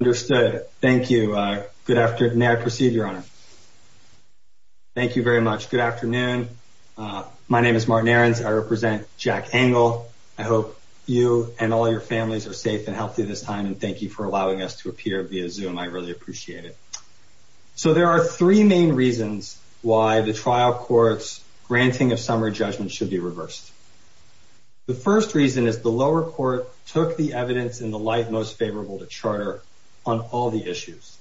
Understood. Thank you. Good afternoon. May I proceed, Your Honor? Thank you very much. Good afternoon. My name is Martin Aarons. I represent Jack Engel. I hope you and all your families are safe and healthy this time, and thank you for allowing us to appear via Zoom. I really appreciate it. So there are three main reasons why the trial court's granting of summary judgment should be reversed. The first reason is the lower court took the light most favorable to charter on all the issues.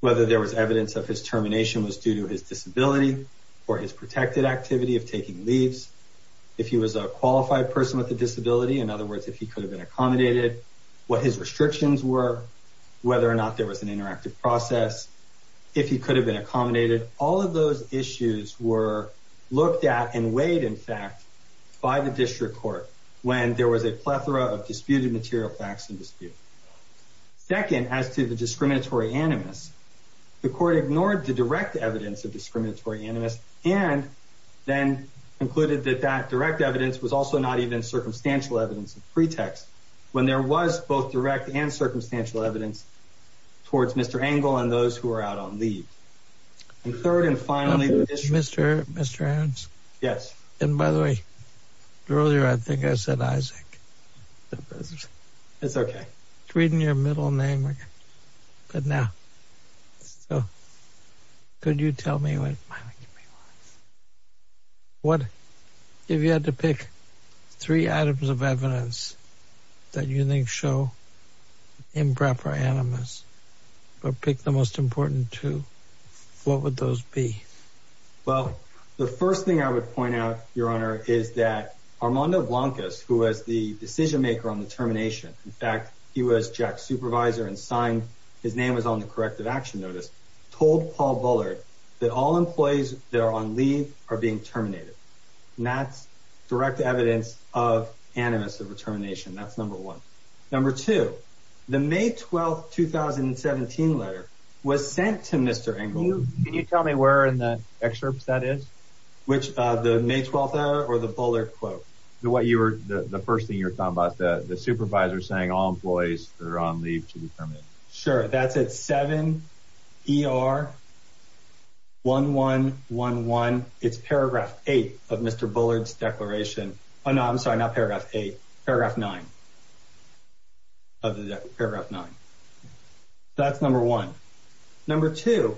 Whether there was evidence of his termination was due to his disability or his protected activity of taking leaves. If he was a qualified person with a disability, in other words, if he could have been accommodated, what his restrictions were, whether or not there was an interactive process, if he could have been accommodated, all of those issues were looked at and weighed, in fact, by the district court when there was a plethora of disputed material facts in dispute. Second, as to the discriminatory animus, the court ignored the direct evidence of discriminatory animus and then concluded that that direct evidence was also not even circumstantial evidence of pretext when there was both direct and circumstantial evidence towards Mr. Engel and earlier, I think I said Isaac. It's okay. It's reading your middle name. But now, so could you tell me what if you had to pick three items of evidence that you think show improper animus, but pick the most important two, what would those be? Well, the first thing I would point out, Your Honor, is that Armando Blancas, who was the decision maker on the termination, in fact, he was Jack's supervisor and signed, his name was on the corrective action notice, told Paul Bullard that all employees that are on leave are being terminated. And that's direct evidence of animus of determination. That's number one. Number two, the May 12th, 2017 letter was sent to Mr. Engel. Can you tell me where in the excerpts that is? Which, the May 12th letter or the Bullard quote? The first thing you're talking about, the supervisor saying all employees that are on leave should be terminated. Sure. That's at 7ER1111. It's paragraph eight of Mr. Bullard's declaration. Oh, paragraph nine. That's number one. Number two,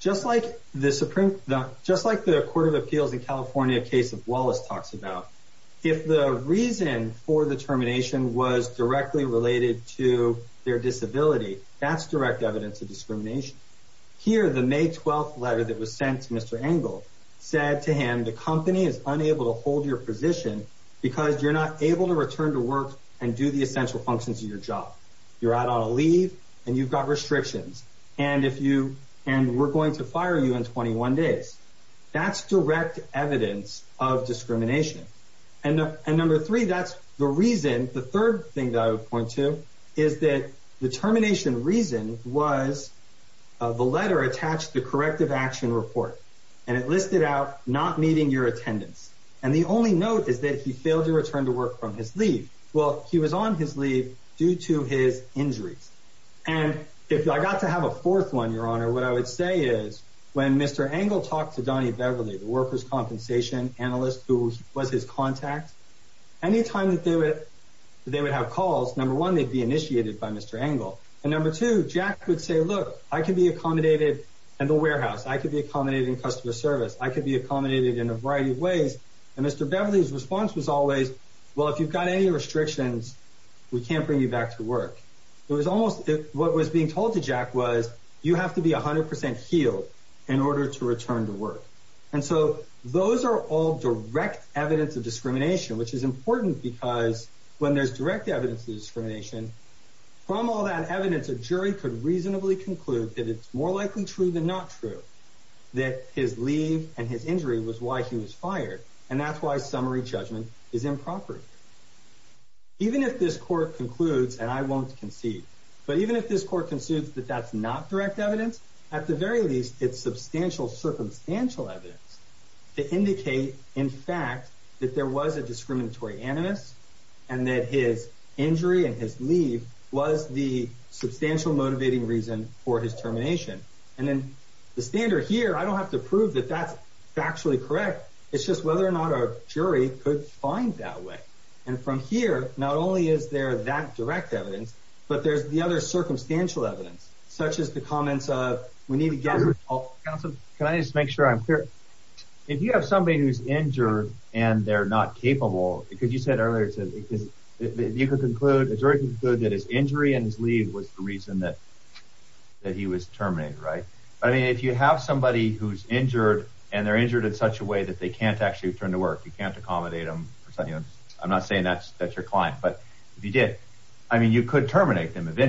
just like the Supreme, just like the Court of Appeals in California case of Wallace talks about, if the reason for the termination was directly related to their disability, that's direct evidence of discrimination. Here, the May 12th letter that was sent to Mr. Engel said to him, the company is unable to hold your position because you're not able to return to work and do the essential functions of your job. You're out on a leave and you've got restrictions, and we're going to fire you in 21 days. That's direct evidence of discrimination. And number three, that's the reason. The third thing that I would point to is that the termination reason was the letter attached to corrective report, and it listed out not meeting your attendance. And the only note is that he failed to return to work from his leave. Well, he was on his leave due to his injuries. And if I got to have a fourth one, Your Honor, what I would say is when Mr. Engel talked to Donny Beverly, the workers' compensation analyst who was his contact, anytime that they would have calls, number one, they'd be initiated by Mr. Engel. And number two, Jack would say, look, I can be accommodated in the warehouse. I could be accommodated in customer service. I could be accommodated in a variety of ways. And Mr. Beverly's response was always, well, if you've got any restrictions, we can't bring you back to work. It was almost what was being told to Jack was, you have to be 100% healed in order to return to work. And so those are all direct evidence of discrimination, which is important because when there's direct evidence of discrimination, from all that evidence, a jury could reasonably conclude that it's more likely true than not true that his leave and his injury was why he was fired. And that's why summary judgment is improper. Even if this court concludes, and I won't concede, but even if this court concedes that that's not direct evidence, at the very least, it's substantial circumstantial evidence to indicate, in fact, that there was a discriminatory animus and that his injury and his leave was the substantial motivating reason for his termination. And then the standard here, I don't have to prove that that's factually correct. It's just whether or not our jury could find that way. And from here, not only is there that direct evidence, but there's the other circumstantial evidence, such as the comments of, we need to get... Can I just make sure I'm clear? If you have somebody who's injured and they're not capable, because you said earlier, you could conclude, a jury could conclude that his injury and his leave was the reason that he was terminated, right? I mean, if you have somebody who's injured and they're injured in such a way that they can't actually return to work, you can't accommodate them, I'm not saying that's your client, but if you did, I mean, you could terminate them if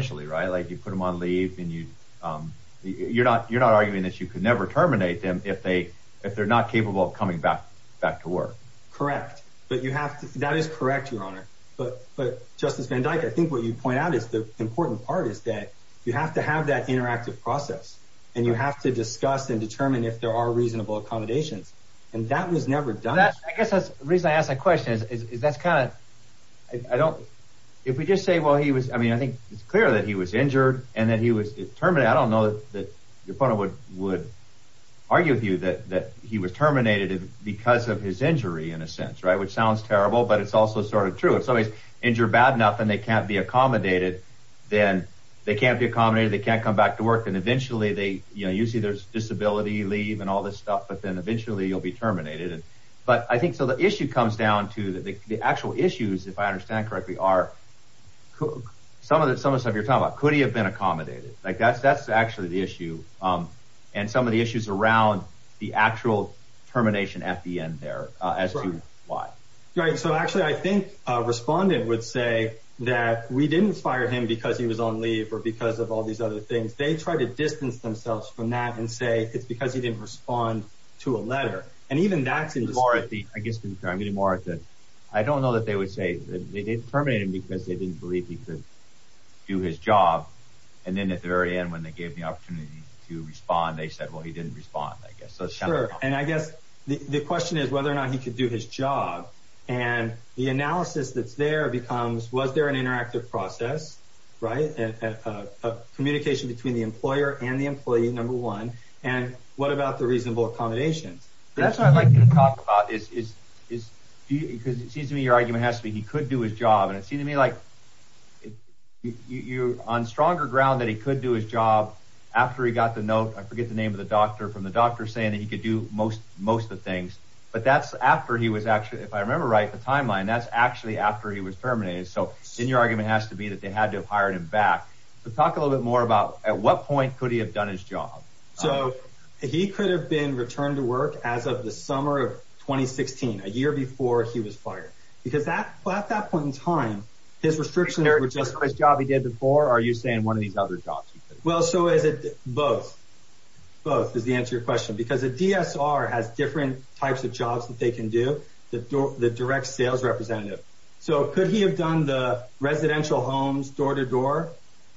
they're not capable of coming back to work. Correct. That is correct, Your Honor. But Justice Van Dyke, I think what you point out is the important part is that you have to have that interactive process and you have to discuss and determine if there are reasonable accommodations. And that was never done. I guess that's the reason I asked that question. If we just say, well, he was, I mean, I think it's clear that he was injured and that he was terminated. I don't know that your opponent would argue with you that he was terminated because of his injury in a sense, right? Which sounds terrible, but it's also sort of true. If somebody's injured bad enough and they can't be accommodated, then they can't be accommodated, they can't come back to work. And eventually they, you know, usually there's disability, leave and all this stuff, but then eventually you'll be terminated. But I think, so the issue comes down to the actual issues, if I understand correctly, are some of the stuff you're talking about, could he have been accommodated? Like that's, that's actually the issue. And some of the issues around the actual termination at the end there as to why. Right. So actually I think a respondent would say that we didn't fire him because he was on leave or because of all these other things. They try to distance themselves from that and say, it's because he didn't respond to a letter. And even that seems more at the, I guess, I'm getting more at the, I don't know they would say that they didn't terminate him because they didn't believe he could do his job. And then at the very end, when they gave the opportunity to respond, they said, well, he didn't respond, I guess. So sure. And I guess the question is whether or not he could do his job and the analysis that's there becomes, was there an interactive process, right? A communication between the employer and the employee, number one. And what about the reasonable accommodations? That's what I'd like you to talk about is, is, is do you, cause it seems to me your argument has to be, he could do his job. And it seemed to me like you're on stronger ground that he could do his job after he got the note. I forget the name of the doctor from the doctor saying that he could do most, most of the things, but that's after he was actually, if I remember right, the timeline, that's actually after he was terminated. So in your argument has to be that they had to have hired him back to talk a little bit more about at what point could he have done his job? So he could have been returned to work as of the summer of 2016, a year before he was fired, because at that point in time, his restrictions were just his job he did before, or are you saying one of these other jobs? Well, so is it both? Both is the answer to your question, because a DSR has different types of jobs that they can do, the direct sales representative. So could he have done the residential homes door to door?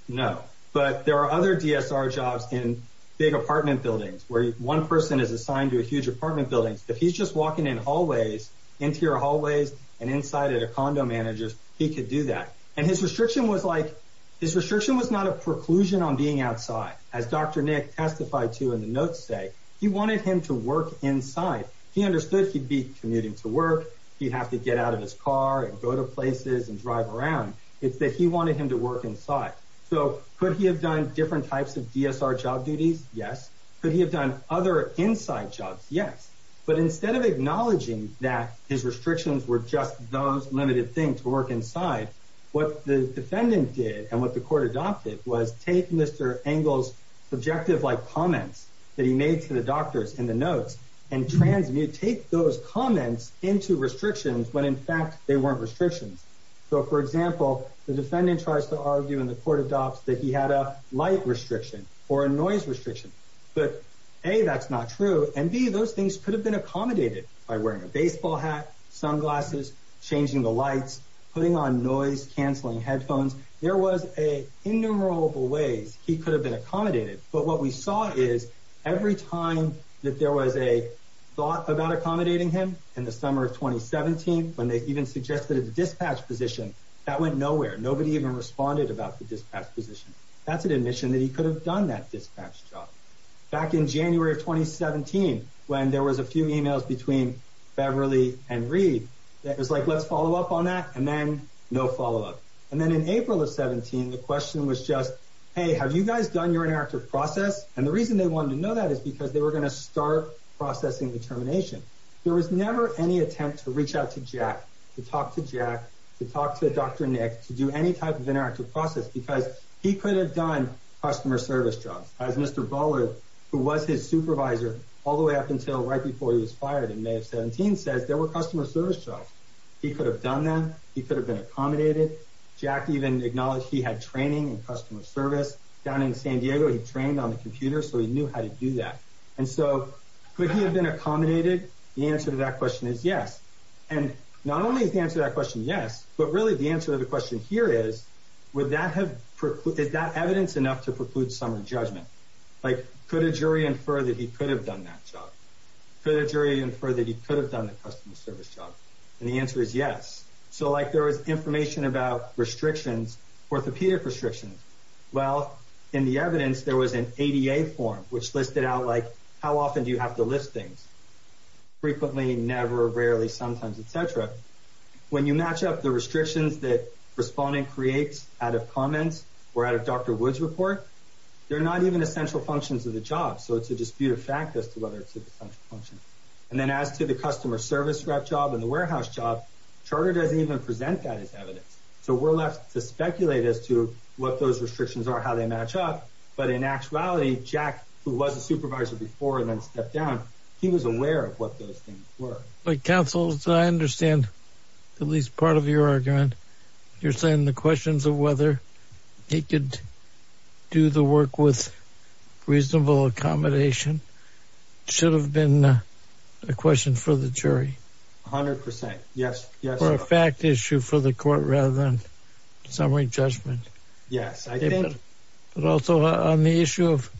No, but there are other DSR jobs in big apartment buildings where one person is assigned to a huge apartment building. If he's just walking in hallways, interior hallways, and inside at a condo managers, he could do that. And his restriction was like, his restriction was not a preclusion on being outside. As Dr. Nick testified to in the notes say, he wanted him to work inside. He understood he'd be commuting to work. He'd have to get out of his car and go to places and drive around. It's that he wanted him to work inside. So could he have done different types of DSR job duties? Yes. Could he have done other inside jobs? Yes. But instead of acknowledging that his restrictions were just those limited things to work inside, what the defendant did and what the court adopted was take Mr. Angle's subjective like comments that he made to the doctors in the notes and transmute, take those comments into restrictions when in fact they weren't restrictions. So for example, the defendant tries to argue and the court adopts that he had a light restriction or a noise restriction, but A, that's not true. And B, those things could have been accommodated by wearing a baseball hat, sunglasses, changing the lights, putting on noise, canceling headphones. There was a innumerable ways he could have been accommodated. But what we saw is every time that there was a thought about accommodating him in the summer of 2017, when they even suggested a dispatch position that went nowhere, nobody even responded about the dispatch position. That's an admission that he could have done that dispatch job back in January of 2017 when there was a few emails between Beverly and Reed that was like, let's follow up on that. And then no follow up. And then in April of 17, the question was just, hey, have you guys done your interactive process? And the reason they wanted to know that is because they were going to start processing the termination. There was never any attempt to reach out to Jack, to talk to Jack, to talk to Dr. Nick, to do any type of interactive process because he could have done customer service jobs. As Mr. Bollard, who was his supervisor all the way up until right before he was fired in May of 17, says there were customer service jobs. He could have done them. He could have been accommodated. Jack even acknowledged he had training in customer service down in San Diego. He trained on the computer, so he knew how to do that. And so, could he have been accommodated? The answer to that question is yes. And not only is the answer to that question yes, but really the answer to the question here is, is that evidence enough to preclude some judgment? Like, could a jury infer that he could have done that job? Could a jury infer that he could have done the customer service job? And the answer is yes. So, like, there was information about restrictions, orthopedic restrictions. Well, in the evidence, there was an ADA form, which listed out, like, how often do you have to lift things? Frequently, never, rarely, sometimes, etc. When you match up the restrictions that respondent creates out of comments or out of Dr. Wood's report, they're not even essential functions of the job. So, it's a disputed fact as to whether it's an essential function. And then, as to the customer service rep job and the warehouse job, Charter doesn't even present that as evidence. So, we're left to speculate as to what those restrictions are, how they match up. But in actuality, Jack, who was a supervisor before and then stepped down, he was aware of what those things were. But, counsel, I understand at least part of your argument. You're saying the questions of whether he could do the work with reasonable accommodation should have been a question for the jury? A hundred percent, yes. For a fact issue for the court rather than summary judgment? Yes. But also, on the issue of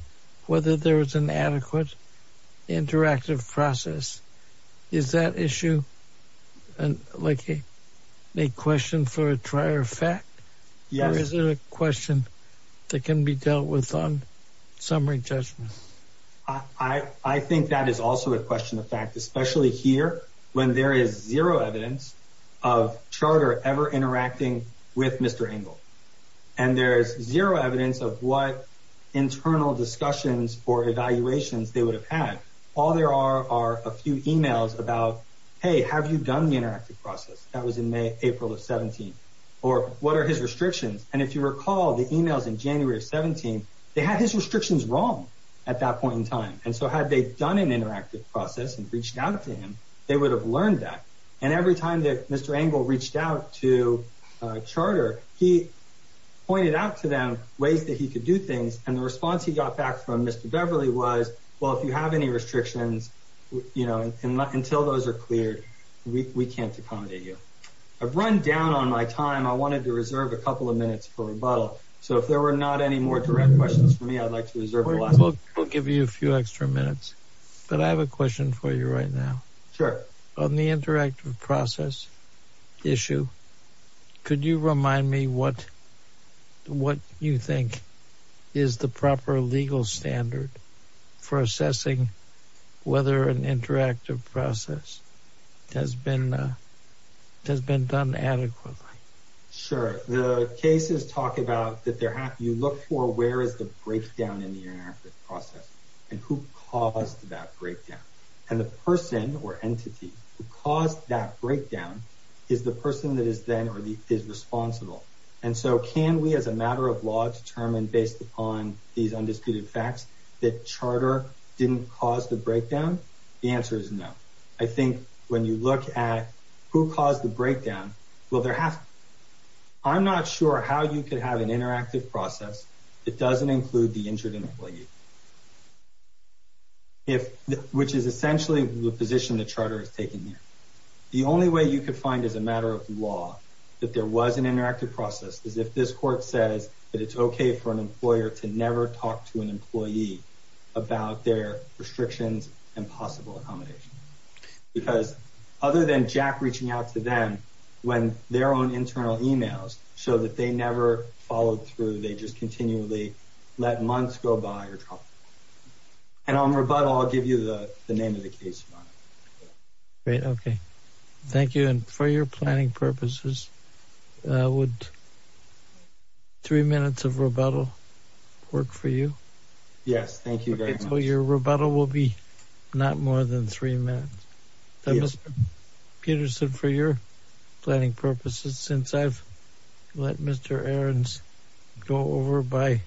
whether there was an adequate interactive process, is that issue, like, a question for a trier fact? Yes. Is it a question that can be dealt with on summary judgment? I think that is also a question of fact, especially here when there is zero evidence of Charter ever interacting with Mr. Engel. And there's zero evidence of what internal discussions or evaluations they would have had. All there are are a few emails about, hey, have you done the interactive process? That was in May, April of 17. Or what are his restrictions? And if you recall the emails in January of 17, they had his restrictions wrong at that point in time. And so had they done an interactive process and reached out to him, they would have learned that. And every time that Mr. Engel reached out to Charter, he pointed out to them ways that he could do things. And the response he got back from Mr. Beverly was, well, if you have any restrictions, you know, until those are cleared, we can't accommodate you. I've run down on my time. I wanted to reserve a couple of minutes for rebuttal. So if there were not any more direct questions for me, I'd like to reserve the last. I'll give you a few extra minutes. But I have a question for you right now. Sure. On the interactive process issue, could you remind me what you think is the proper legal standard for assessing whether an interactive process has been done adequately? Sure. The cases talk about that you look for where is the breakdown in the interactive process and who caused that breakdown. And the person or entity who caused that breakdown is the person that is then or is responsible. And so can we, as a matter of law, determine based upon these undisputed facts that Charter didn't cause the breakdown? The answer is no. I think when you look at who caused the breakdown, well, there has to be. I'm not sure how you could have an interactive process that doesn't include the injured employee, which is essentially the position that Charter has taken here. The only way you could find as a matter of law that there talked to an employee about their restrictions and possible accommodation. Because other than Jack reaching out to them when their own internal emails show that they never followed through, they just continually let months go by. And on rebuttal, I'll give you the name of the case. Great. Okay. Thank you. And for your planning purposes, would three minutes of rebuttal work for you? Yes. Thank you very much. Your rebuttal will be not more than three minutes. Peterson, for your planning purposes, since I've let Mr. Aarons go over by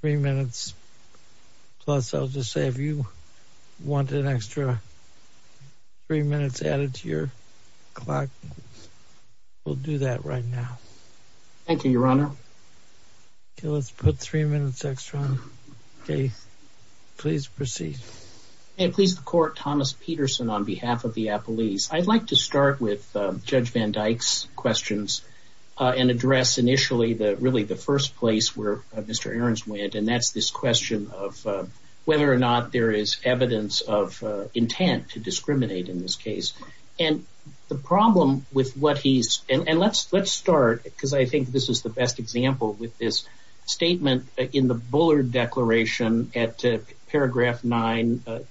three minutes plus, I'll just say, if you want an extra three minutes added to your clock, we'll do that right now. Thank you, Your Honor. Okay. Let's put three minutes extra on. Okay. Please proceed. May it please the court, Thomas Peterson on behalf of the Appalese. I'd like to start with this question of whether or not there is evidence of intent to discriminate in this case. And the problem with what he's... And let's start, because I think this is the best example with this statement in the Bullard Declaration at paragraph 9 ER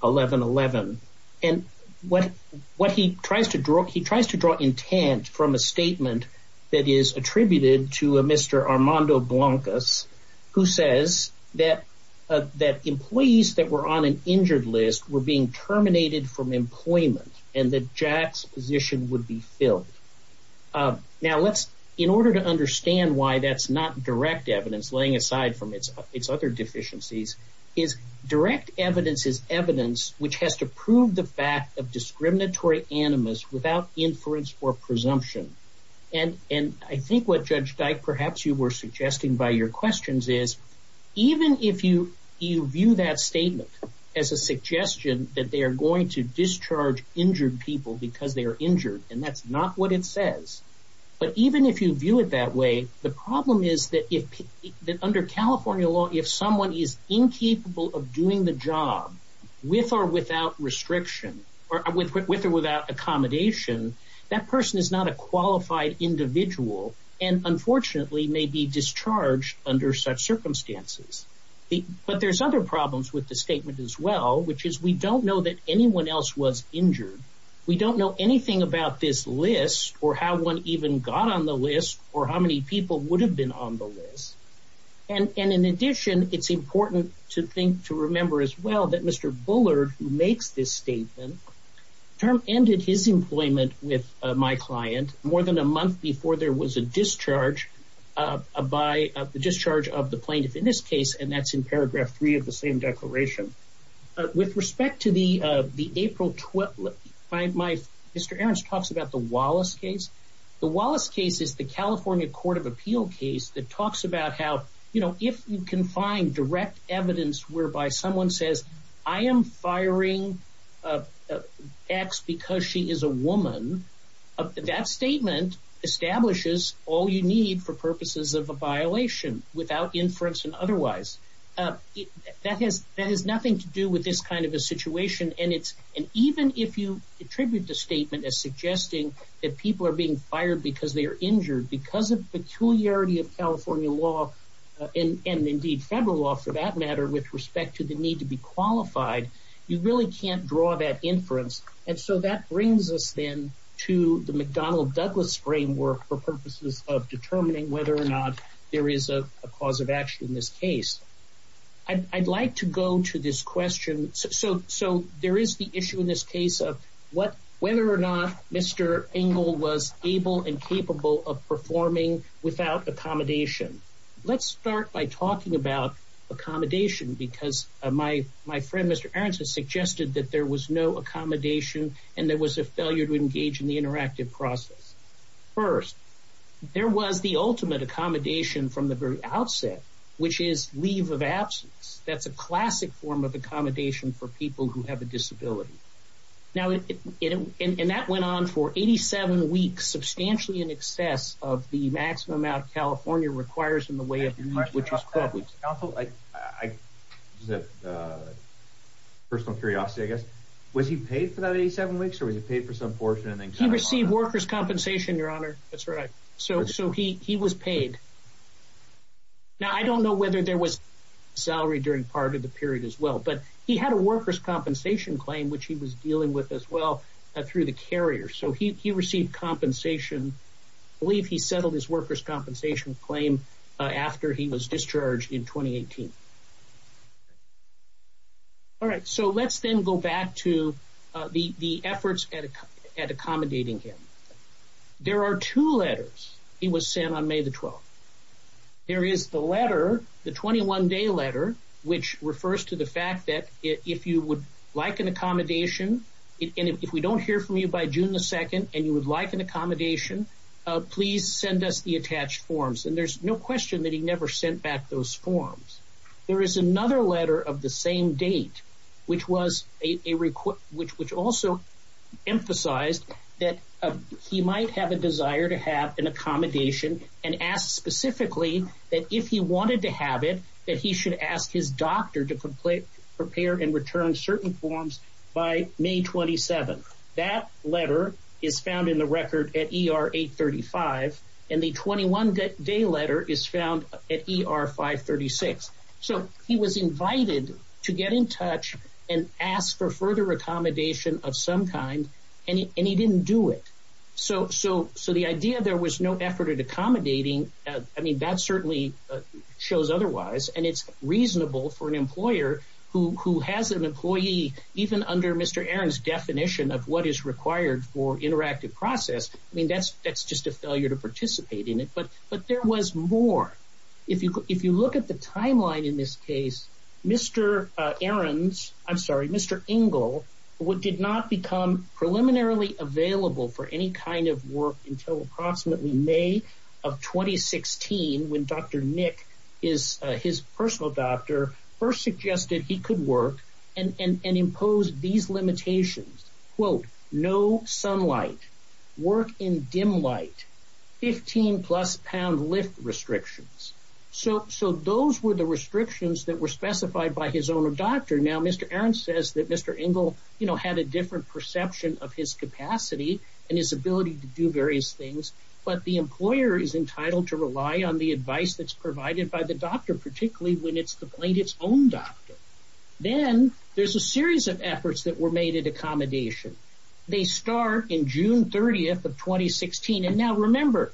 1111. And what he tries to draw, he tries to draw intent from a statement that is attributed to Mr. Armando Blancas, who says that employees that were on an injured list were being terminated from employment and that Jack's position would be filled. Now, let's, in order to understand why that's not direct evidence, laying aside from its other deficiencies, is direct evidence is evidence which has to prove the fact of discriminatory animus without inference or presumption. And I think what Judge Dike perhaps you were suggesting by your questions is, even if you view that statement as a suggestion that they are going to discharge injured people because they are injured, and that's not what it says, but even if you view it that way, the problem is that under California law, if someone is incapable of doing the job with or without restriction, or with or without accommodation, that person is not a qualified individual and unfortunately may be discharged under such circumstances. But there's other problems with the statement as well, which is we don't know that anyone else was injured. We don't know anything about this list or how one even got on the list or how many people would have been on the list. And in addition, it's important to think to remember as well that Mr. Bullard, who makes this statement, term ended his employment with my client more than a month before there was a discharge by the discharge of the plaintiff in this case, and that's in paragraph three of the declaration. With respect to the April 12th, Mr. Ahrens talks about the Wallace case. The Wallace case is the California Court of Appeal case that talks about how, you know, if you can find direct evidence whereby someone says, I am firing X because she is a woman, that statement establishes all you need for purposes of a violation without inference and that has nothing to do with this kind of a situation. And even if you attribute the statement as suggesting that people are being fired because they are injured because of peculiarity of California law and indeed federal law for that matter, with respect to the need to be qualified, you really can't draw that inference. And so that brings us then to the McDonnell-Douglas framework for purposes of determining whether or not there is a cause of action in this case. I'd like to go to this question. So there is the issue in this case of whether or not Mr. Engel was able and capable of performing without accommodation. Let's start by talking about accommodation because my friend Mr. Ahrens has suggested that there was no accommodation and there was a failure to engage in the interactive process. First, there was the ultimate accommodation from the very outset, which is leave of absence. That's a classic form of accommodation for people who have a disability. Now, and that went on for 87 weeks, substantially in excess of the maximum amount California requires in the way of leave, which is 12 weeks. I have a personal curiosity, I guess. Was he paid for that 87 weeks or was he paid for some portion? He received workers' compensation, Your Honor. That's right. So he was paid. Now, I don't know whether there was salary during part of the period as well, but he had a workers' compensation claim, which he was dealing with as well through the carrier. So he received compensation. I believe he settled his workers' compensation claim after he was discharged in 2018. All right, so let's then go back to the efforts at accommodating him. There are two letters he was sent on May the 12th. There is the letter, the 21-day letter, which refers to the fact that if you would like an accommodation, and if we don't hear from you by June the 2nd and you would like an accommodation, please send us the attached forms. And there's no question that he never sent back those forms. There is another letter of the same date, which also emphasized that he might have a desire to have an accommodation and asked specifically that if he wanted to have it, that he should ask his doctor to prepare and return certain forms by May 27th. That letter is found in the record at ER 835, and the 21-day letter is found at ER 536. So he was invited to get in touch and ask for further accommodation of some kind, and he didn't do it. So the idea there was no effort at accommodating, I mean, that certainly shows otherwise, and it's reasonable for an employer who has an employee, even under Mr. Aaron's definition of what is required for interactive process, I mean, that's just a failure to participate in it. But there was more. If you look at the timeline in this case, Mr. Aaron's, I'm sorry, Mr. Ingle did not become preliminarily available for any kind of work until approximately May of 2016, when Dr. Nick, his personal doctor, first suggested he could work and impose these limitations, quote, no sunlight, work in dim light, 15 plus pound lift restrictions. So those were the restrictions that were specified by his own doctor. Now Mr. Aaron says that Mr. Ingle, you know, had a different perception of his capacity and his ability to do various things, but the employer is entitled to rely on the advice that's provided by the doctor, particularly when it's the plaintiff's own doctor. Then there's a series of efforts that were made at accommodation. They start in June 30th of 2016, and now remember,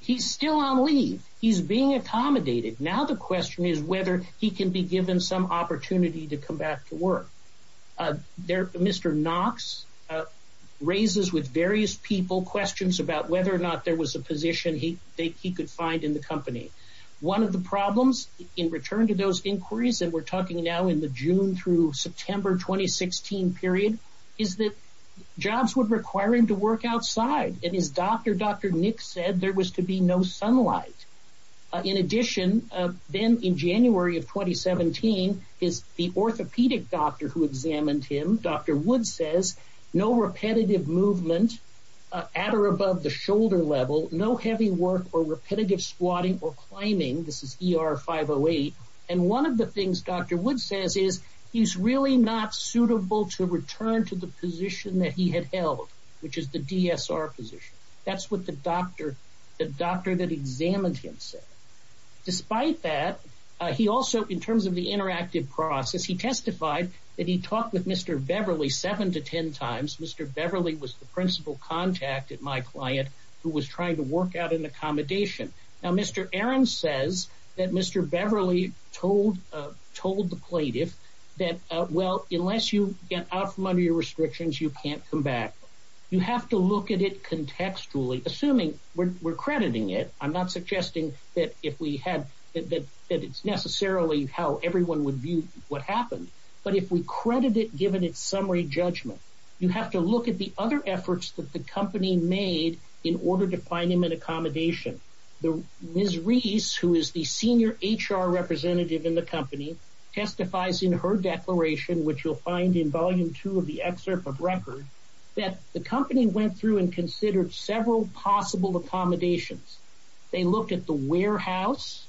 he's still on leave, he's being accommodated. Now the question is whether he can be given some opportunity to come back to work. There, Mr. Knox raises with various people questions about whether or not there was a position he could find in the company. One of the problems in return to those inquiries, and we're talking now in the June through September 2016 period, is that jobs would require him to work outside, and his doctor, Dr. Nick, said there was to be no sunlight. In addition, then in January of 2017, the orthopedic doctor who examined him, Dr. Wood says, no repetitive movement at or above the shoulder level, no heavy work or repetitive squatting or one of the things Dr. Wood says is he's really not suitable to return to the position that he had held, which is the DSR position. That's what the doctor that examined him said. Despite that, he also, in terms of the interactive process, he testified that he talked with Mr. Beverly seven to ten times. Mr. Beverly was the principal contact at my client who was trying to work out an accommodation. Now, Mr. Aaron says that Mr. Beverly told the plaintiff that, well, unless you get out from under your restrictions, you can't come back. You have to look at it contextually, assuming we're crediting it. I'm not suggesting that it's necessarily how everyone would view what happened, but if we credit it given its summary judgment, you have to look at the other accommodation. Ms. Reese, who is the senior HR representative in the company, testifies in her declaration, which you'll find in volume two of the excerpt of record, that the company went through and considered several possible accommodations. They looked at the warehouse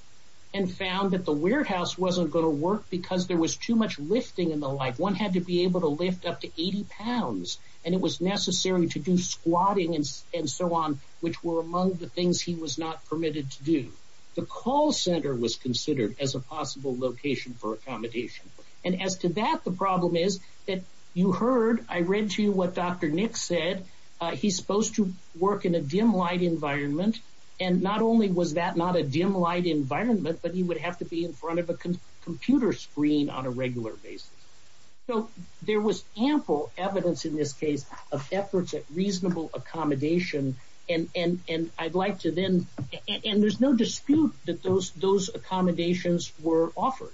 and found that the warehouse wasn't going to work because there was too much lifting and the like. One had to be able to lift up to 80 pounds, and it was necessary to do squatting and so on, which were among the things he was not permitted to do. The call center was considered as a possible location for accommodation, and as to that, the problem is that you heard, I read to you what Dr. Nick said, he's supposed to work in a dim light environment, and not only was that not a dim light environment, but he would have to be in front of a computer screen on a regular basis. So, there was ample evidence in this case of efforts at reasonable accommodation, and I'd like to then, and there's no dispute that those accommodations were offered.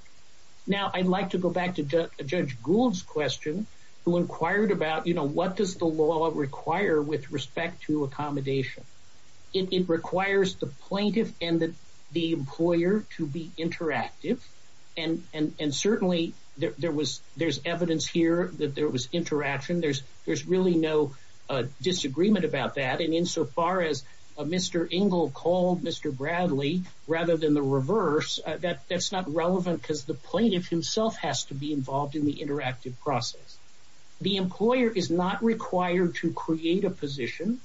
Now, I'd like to go back to Judge Gould's question, who inquired about, you know, what does the law require with respect to accommodation? It requires the plaintiff and the employer to be there. There's evidence here that there was interaction. There's really no disagreement about that, and insofar as Mr. Ingle called Mr. Bradley rather than the reverse, that's not relevant because the plaintiff himself has to be involved in the interactive process. The employer is not required to create a position.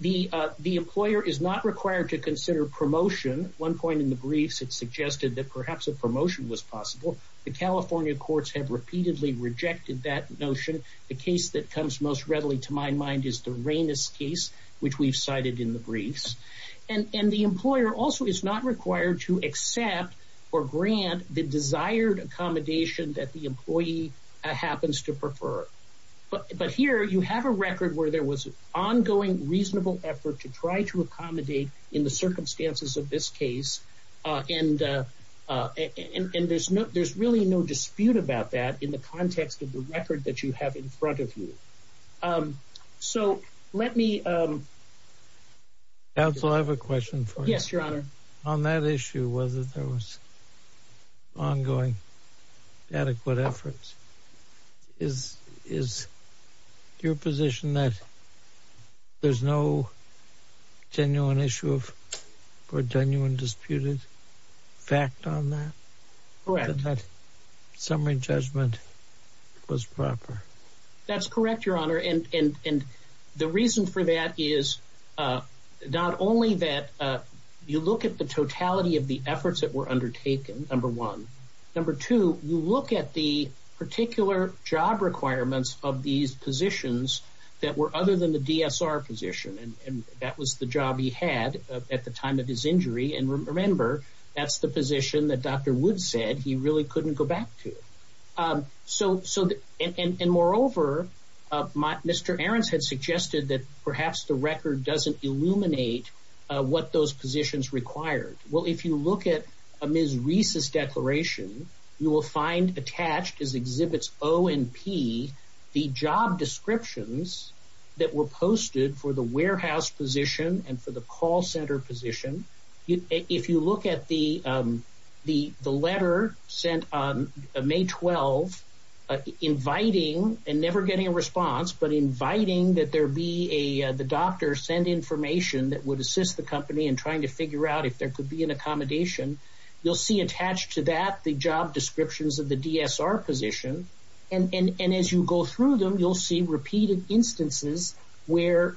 The employer is not required to consider promotion. One point in the briefs, it suggested that perhaps a promotion was possible. The California courts have repeatedly rejected that notion. The case that comes most readily to my mind is the Rainis case, which we've cited in the briefs, and the employer also is not required to accept or grant the desired accommodation that the employee happens to prefer. But here, you have a record where there was ongoing reasonable effort to try to accommodate in the circumstances of this case, and there's really no dispute about that in the context of the record that you have in front of you. So let me... Counsel, I have a question for you. Yes, Your Honor. On that issue, whether there was ongoing adequate efforts, is your position that there's no genuine issue or genuine disputed fact on that? Correct. That summary judgment was proper? That's correct, Your Honor, and the reason for that is not only that you look at the totality of the efforts that were undertaken, number one. Number two, you look at the particular job requirements of these positions that were other than the DSR position, and that was the job he had at the time of his injury. And remember, that's the position that Dr. Woods said he really couldn't go back to. And moreover, Mr. Ahrens had suggested that perhaps the record doesn't illuminate what those positions required. Well, if you look at Ms. Reese's declaration, you will find attached as Exhibits O and P, the job descriptions that were posted for the warehouse position and for the call center position. If you look at the letter sent on May 12, inviting and never getting a response, but inviting that there be the doctor send information that would assist the company in trying to figure out if there could be an accommodation, you'll see attached to that the job descriptions of the DSR position. And as you go through them, you'll see repeated instances where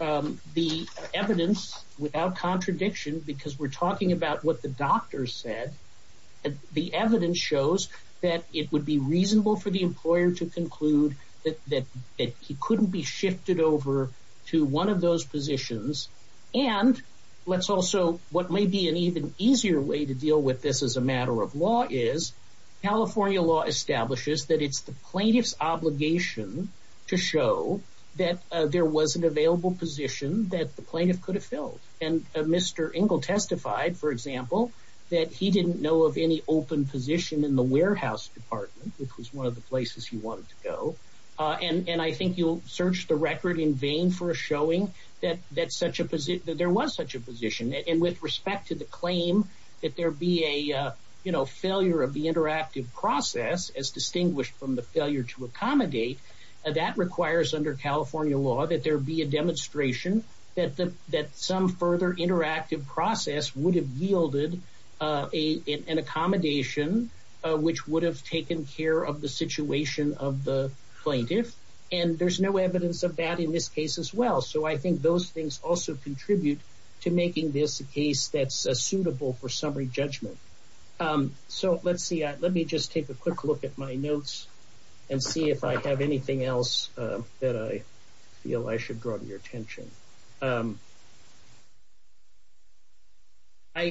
the evidence without contradiction, because we're talking about what the doctor said, the evidence shows that it would be reasonable for the employer to conclude that he couldn't be shifted over to one of those positions. And let's also, what may be an even easier way to deal with this as a matter of law is California law establishes that it's the plaintiff's obligation to show that there was an available position that the plaintiff could have filled. And Mr. Ingle testified, for example, that he didn't know of any open position in the warehouse department, which was one of the places he wanted to go. And I think you'll search the record in vain for showing that there was such a position. And with respect to the claim, there be a, you know, failure of the interactive process as distinguished from the failure to accommodate that requires under California law that there be a demonstration that some further interactive process would have yielded an accommodation, which would have taken care of the situation of the plaintiff. And there's no evidence of that in this case as well. So I think those things also contribute to making this a case that's suitable for summary judgment. So let's see, let me just take a quick look at my notes and see if I have anything else that I feel I should draw to your attention. I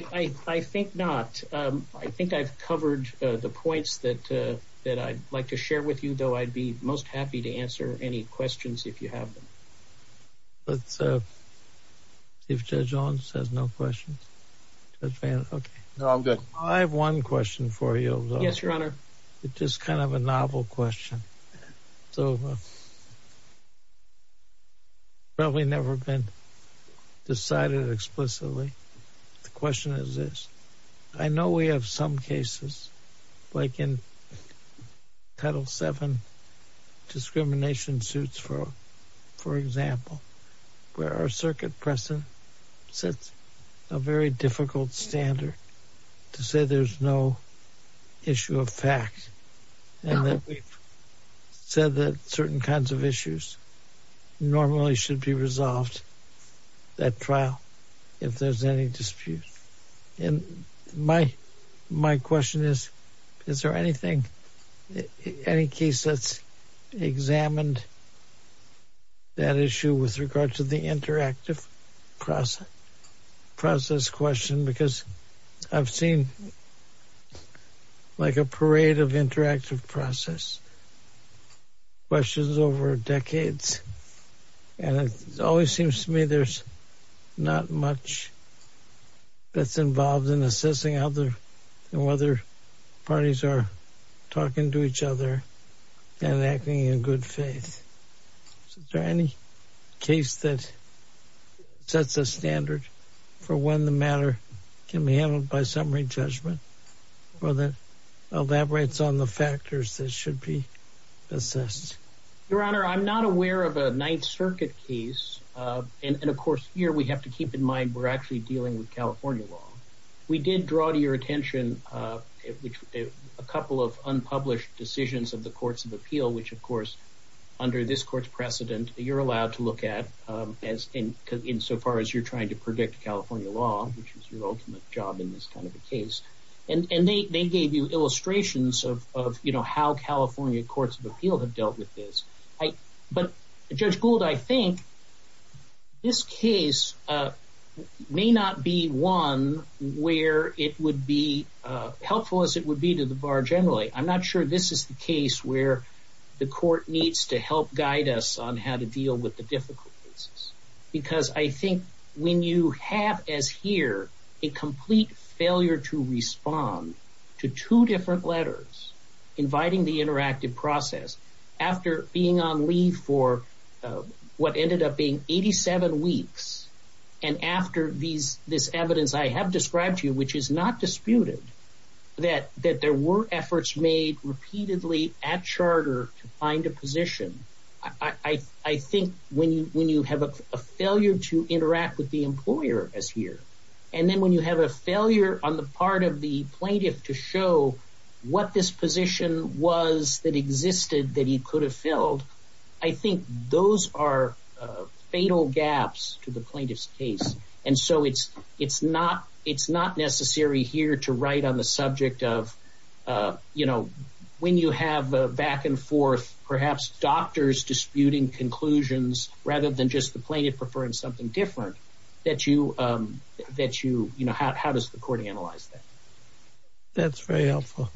think not. I think I've covered the points that I'd like to share with you, though I'd be most happy to answer any questions if you have them. Let's see if Judge Owens has no questions. Judge Van, okay. No, I'm good. I have one question for you. Yes, your honor. It's just kind of a novel question. So probably never been decided explicitly. The question is this. I know we have some cases like in Title VII discrimination suits, for example, where our circuit precedent sets a very difficult standard to say there's no issue of fact and that we've said that certain kinds of issues normally should be resolved at trial if there's any dispute. And my question is, is there anything, any case that's examined that issue with regard to the interactive process question? Because I've seen like a parade of interactive process questions over decades, and it always seems to me there's not much that's involved in assessing whether parties are talking to each other and acting in good faith. Is there any case that sets a standard for when the matter can be handled by summary judgment or that elaborates on the factors that should be assessed? Your honor, I'm not aware of a Ninth Circuit case. And, of course, here we have to keep in mind we're actually dealing with California law. We did draw to your attention a couple of unpublished decisions of the courts of appeal, which, of course, under this court's precedent, you're allowed to look at insofar as you're trying to predict California law, which is your ultimate job in this kind of a case. And they gave you illustrations of how California courts of appeal have dealt with this. But Judge Gould, I think this case may not be one where it would be helpful as it would be to the bar generally. I'm not sure this is the case where the court needs to help guide us on how to deal with the difficult cases. Because I think when you have as here a complete failure to respond to two different letters inviting the interactive process after being on leave for what ended up being 87 weeks and after this evidence I have described to you, which is not disputed, that there were efforts made repeatedly at charter to find a when you have a failure on the part of the plaintiff to show what this position was that existed that he could have filled, I think those are fatal gaps to the plaintiff's case. And so it's not necessary here to write on the subject of, you know, when you have a back and forth, perhaps doctors disputing conclusions rather than just the plaintiff preferring something different, that you, you know, how does the court analyze that? That's very helpful.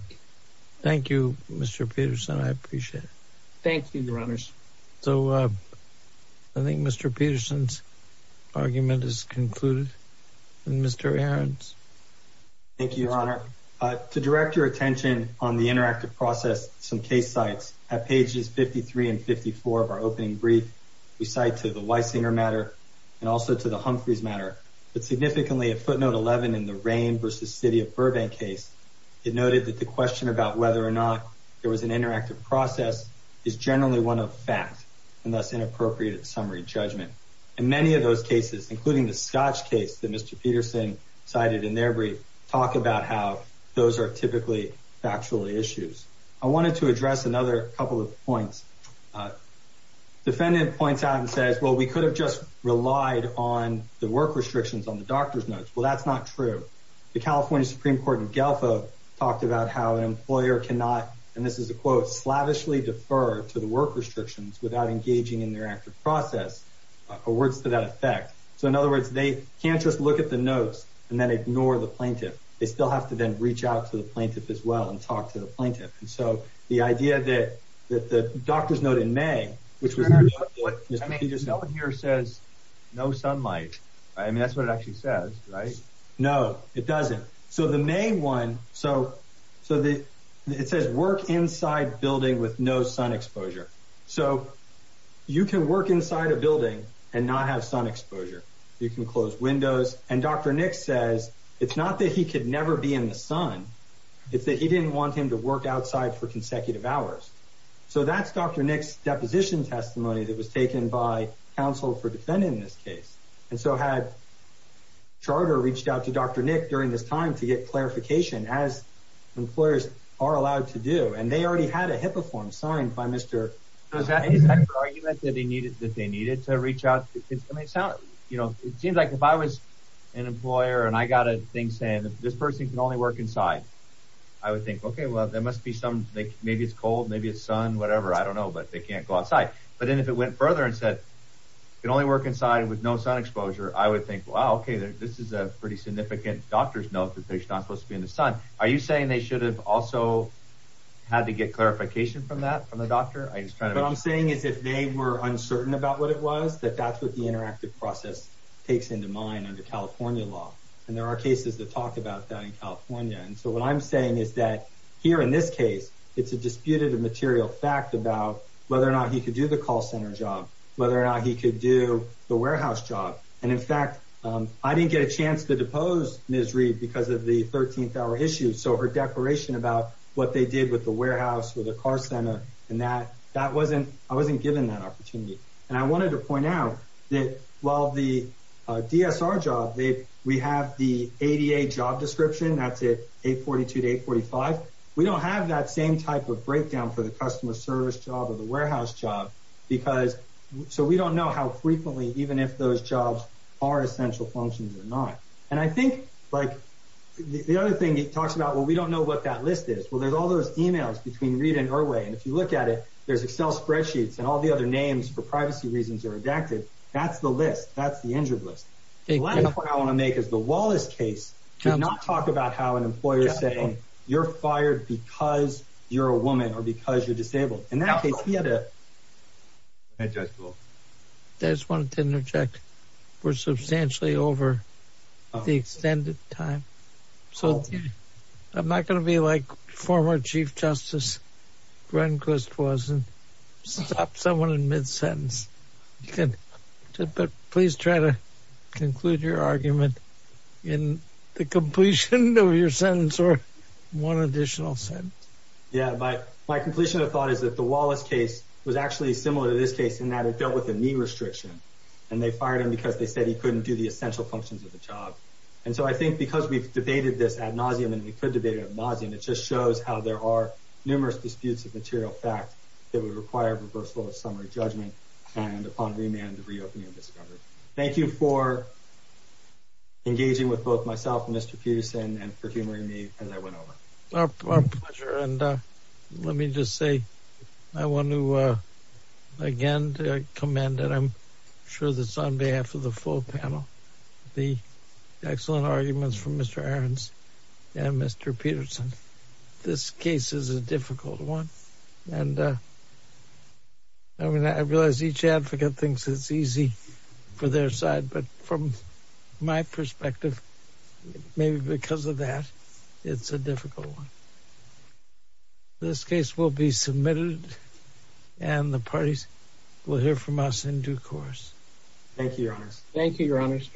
Thank you, Mr. Peterson. I appreciate it. Thank you, your honors. So I think Mr. Peterson's argument is concluded. And Mr. Ahrens? Thank you, your honor. To direct your attention on the interactive process, some case sites at pages 53 and 54 of our opening brief, we cite to the Weisinger matter and also to the Humphreys matter, but significantly at footnote 11 in the rain versus city of Burbank case, it noted that the question about whether or not there was an interactive process is generally one of fact and thus inappropriate summary judgment. And many of those cases, including the Scotch case that Mr. Peterson cited in their brief, talk about how those are typically factual issues. I wanted to address another couple of points. Uh, defendant points out and says, well, we could have just relied on the work restrictions on the doctor's notes. Well, that's not true. The California Supreme court in Guelph talked about how an employer cannot, and this is a quote, slavishly defer to the work restrictions without engaging in their active process or words to that effect. So in other words, they can't just look at the notes and then ignore the plaintiff. They still have to then reach out to the plaintiff as well and talk to the plaintiff. And so the idea that that the doctor's note in May, which was what you just don't hear, says no sunlight. I mean, that's what it actually says, right? No, it doesn't. So the main one. So, so the it says work inside building with no sun exposure. So you can work inside a building and not have sun exposure. You can close windows. And Dr. he could never be in the sun. It's that he didn't want him to work outside for consecutive hours. So that's Dr. Nick's deposition testimony that was taken by counsel for defending this case. And so had charter reached out to Dr. Nick during this time to get clarification as employers are allowed to do. And they already had a HIPAA form signed by Mr. argument that he needed, that they needed to reach out. It may sound, you know, it seems like if I was an employer and I got a thing saying this person can only work inside, I would think, okay, well, there must be some, maybe it's cold, maybe it's sun, whatever. I don't know, but they can't go outside. But then if it went further and said, you can only work inside with no sun exposure, I would think, wow, okay, this is a pretty significant doctor's note that they're not supposed to be in the sun. Are you saying they should have also had to get clarification from that, from the doctor? What I'm saying is if they were uncertain about what it takes into mind under California law, and there are cases that talk about that in California. And so what I'm saying is that here in this case, it's a disputed material fact about whether or not he could do the call center job, whether or not he could do the warehouse job. And in fact, I didn't get a chance to depose Ms. Reid because of the 13th hour issue. So her declaration about what they did with the warehouse, with a car center, and that, that wasn't, I wasn't given that opportunity. And I wanted to point out that while the DSR job, we have the ADA job description, that's it, 842 to 845. We don't have that same type of breakdown for the customer service job or the warehouse job because, so we don't know how frequently, even if those jobs are essential functions or not. And I think like the other thing he talks about, well, we don't know what that list is. Well, there's all those emails between Reid and Irway. And if you look at it, there's Excel spreadsheets and all the other names for privacy reasons are adapted. That's the list. That's the injured list. The last point I want to make is the Wallace case did not talk about how an employer is saying you're fired because you're a woman or because you're disabled. In that case, he had a... I just wanted to interject. We're substantially over the extended time. So I'm not going to be like former Chief Justice Gronquist was and stop someone in mid-sentence. But please try to conclude your argument in the completion of your sentence or one additional sentence. Yeah, but my completion of thought is that the Wallace case was actually similar to this case in that it dealt with a knee restriction. And they fired him because they said he couldn't do the essential functions of the job. And so I think because we've debated this ad nauseum and we could debate it ad nauseum, it just shows how there are numerous disputes of material fact that would require reversal of summary judgment and upon remand, the reopening of discovery. Thank you for engaging with both myself and Mr. Peterson and for humoring me as I went over. Our pleasure. And let me just say, I want to again commend and I'm sure that's on behalf of the full panel, the excellent arguments from Mr. Ahrens and Mr. Peterson. This case is a difficult one. And I realize each advocate thinks it's easy for their side, but from my perspective, maybe because of that, it's a difficult one. This case will be submitted and the parties will hear from us in due course. Thank you, Your Honors. Thank you, Your Honors.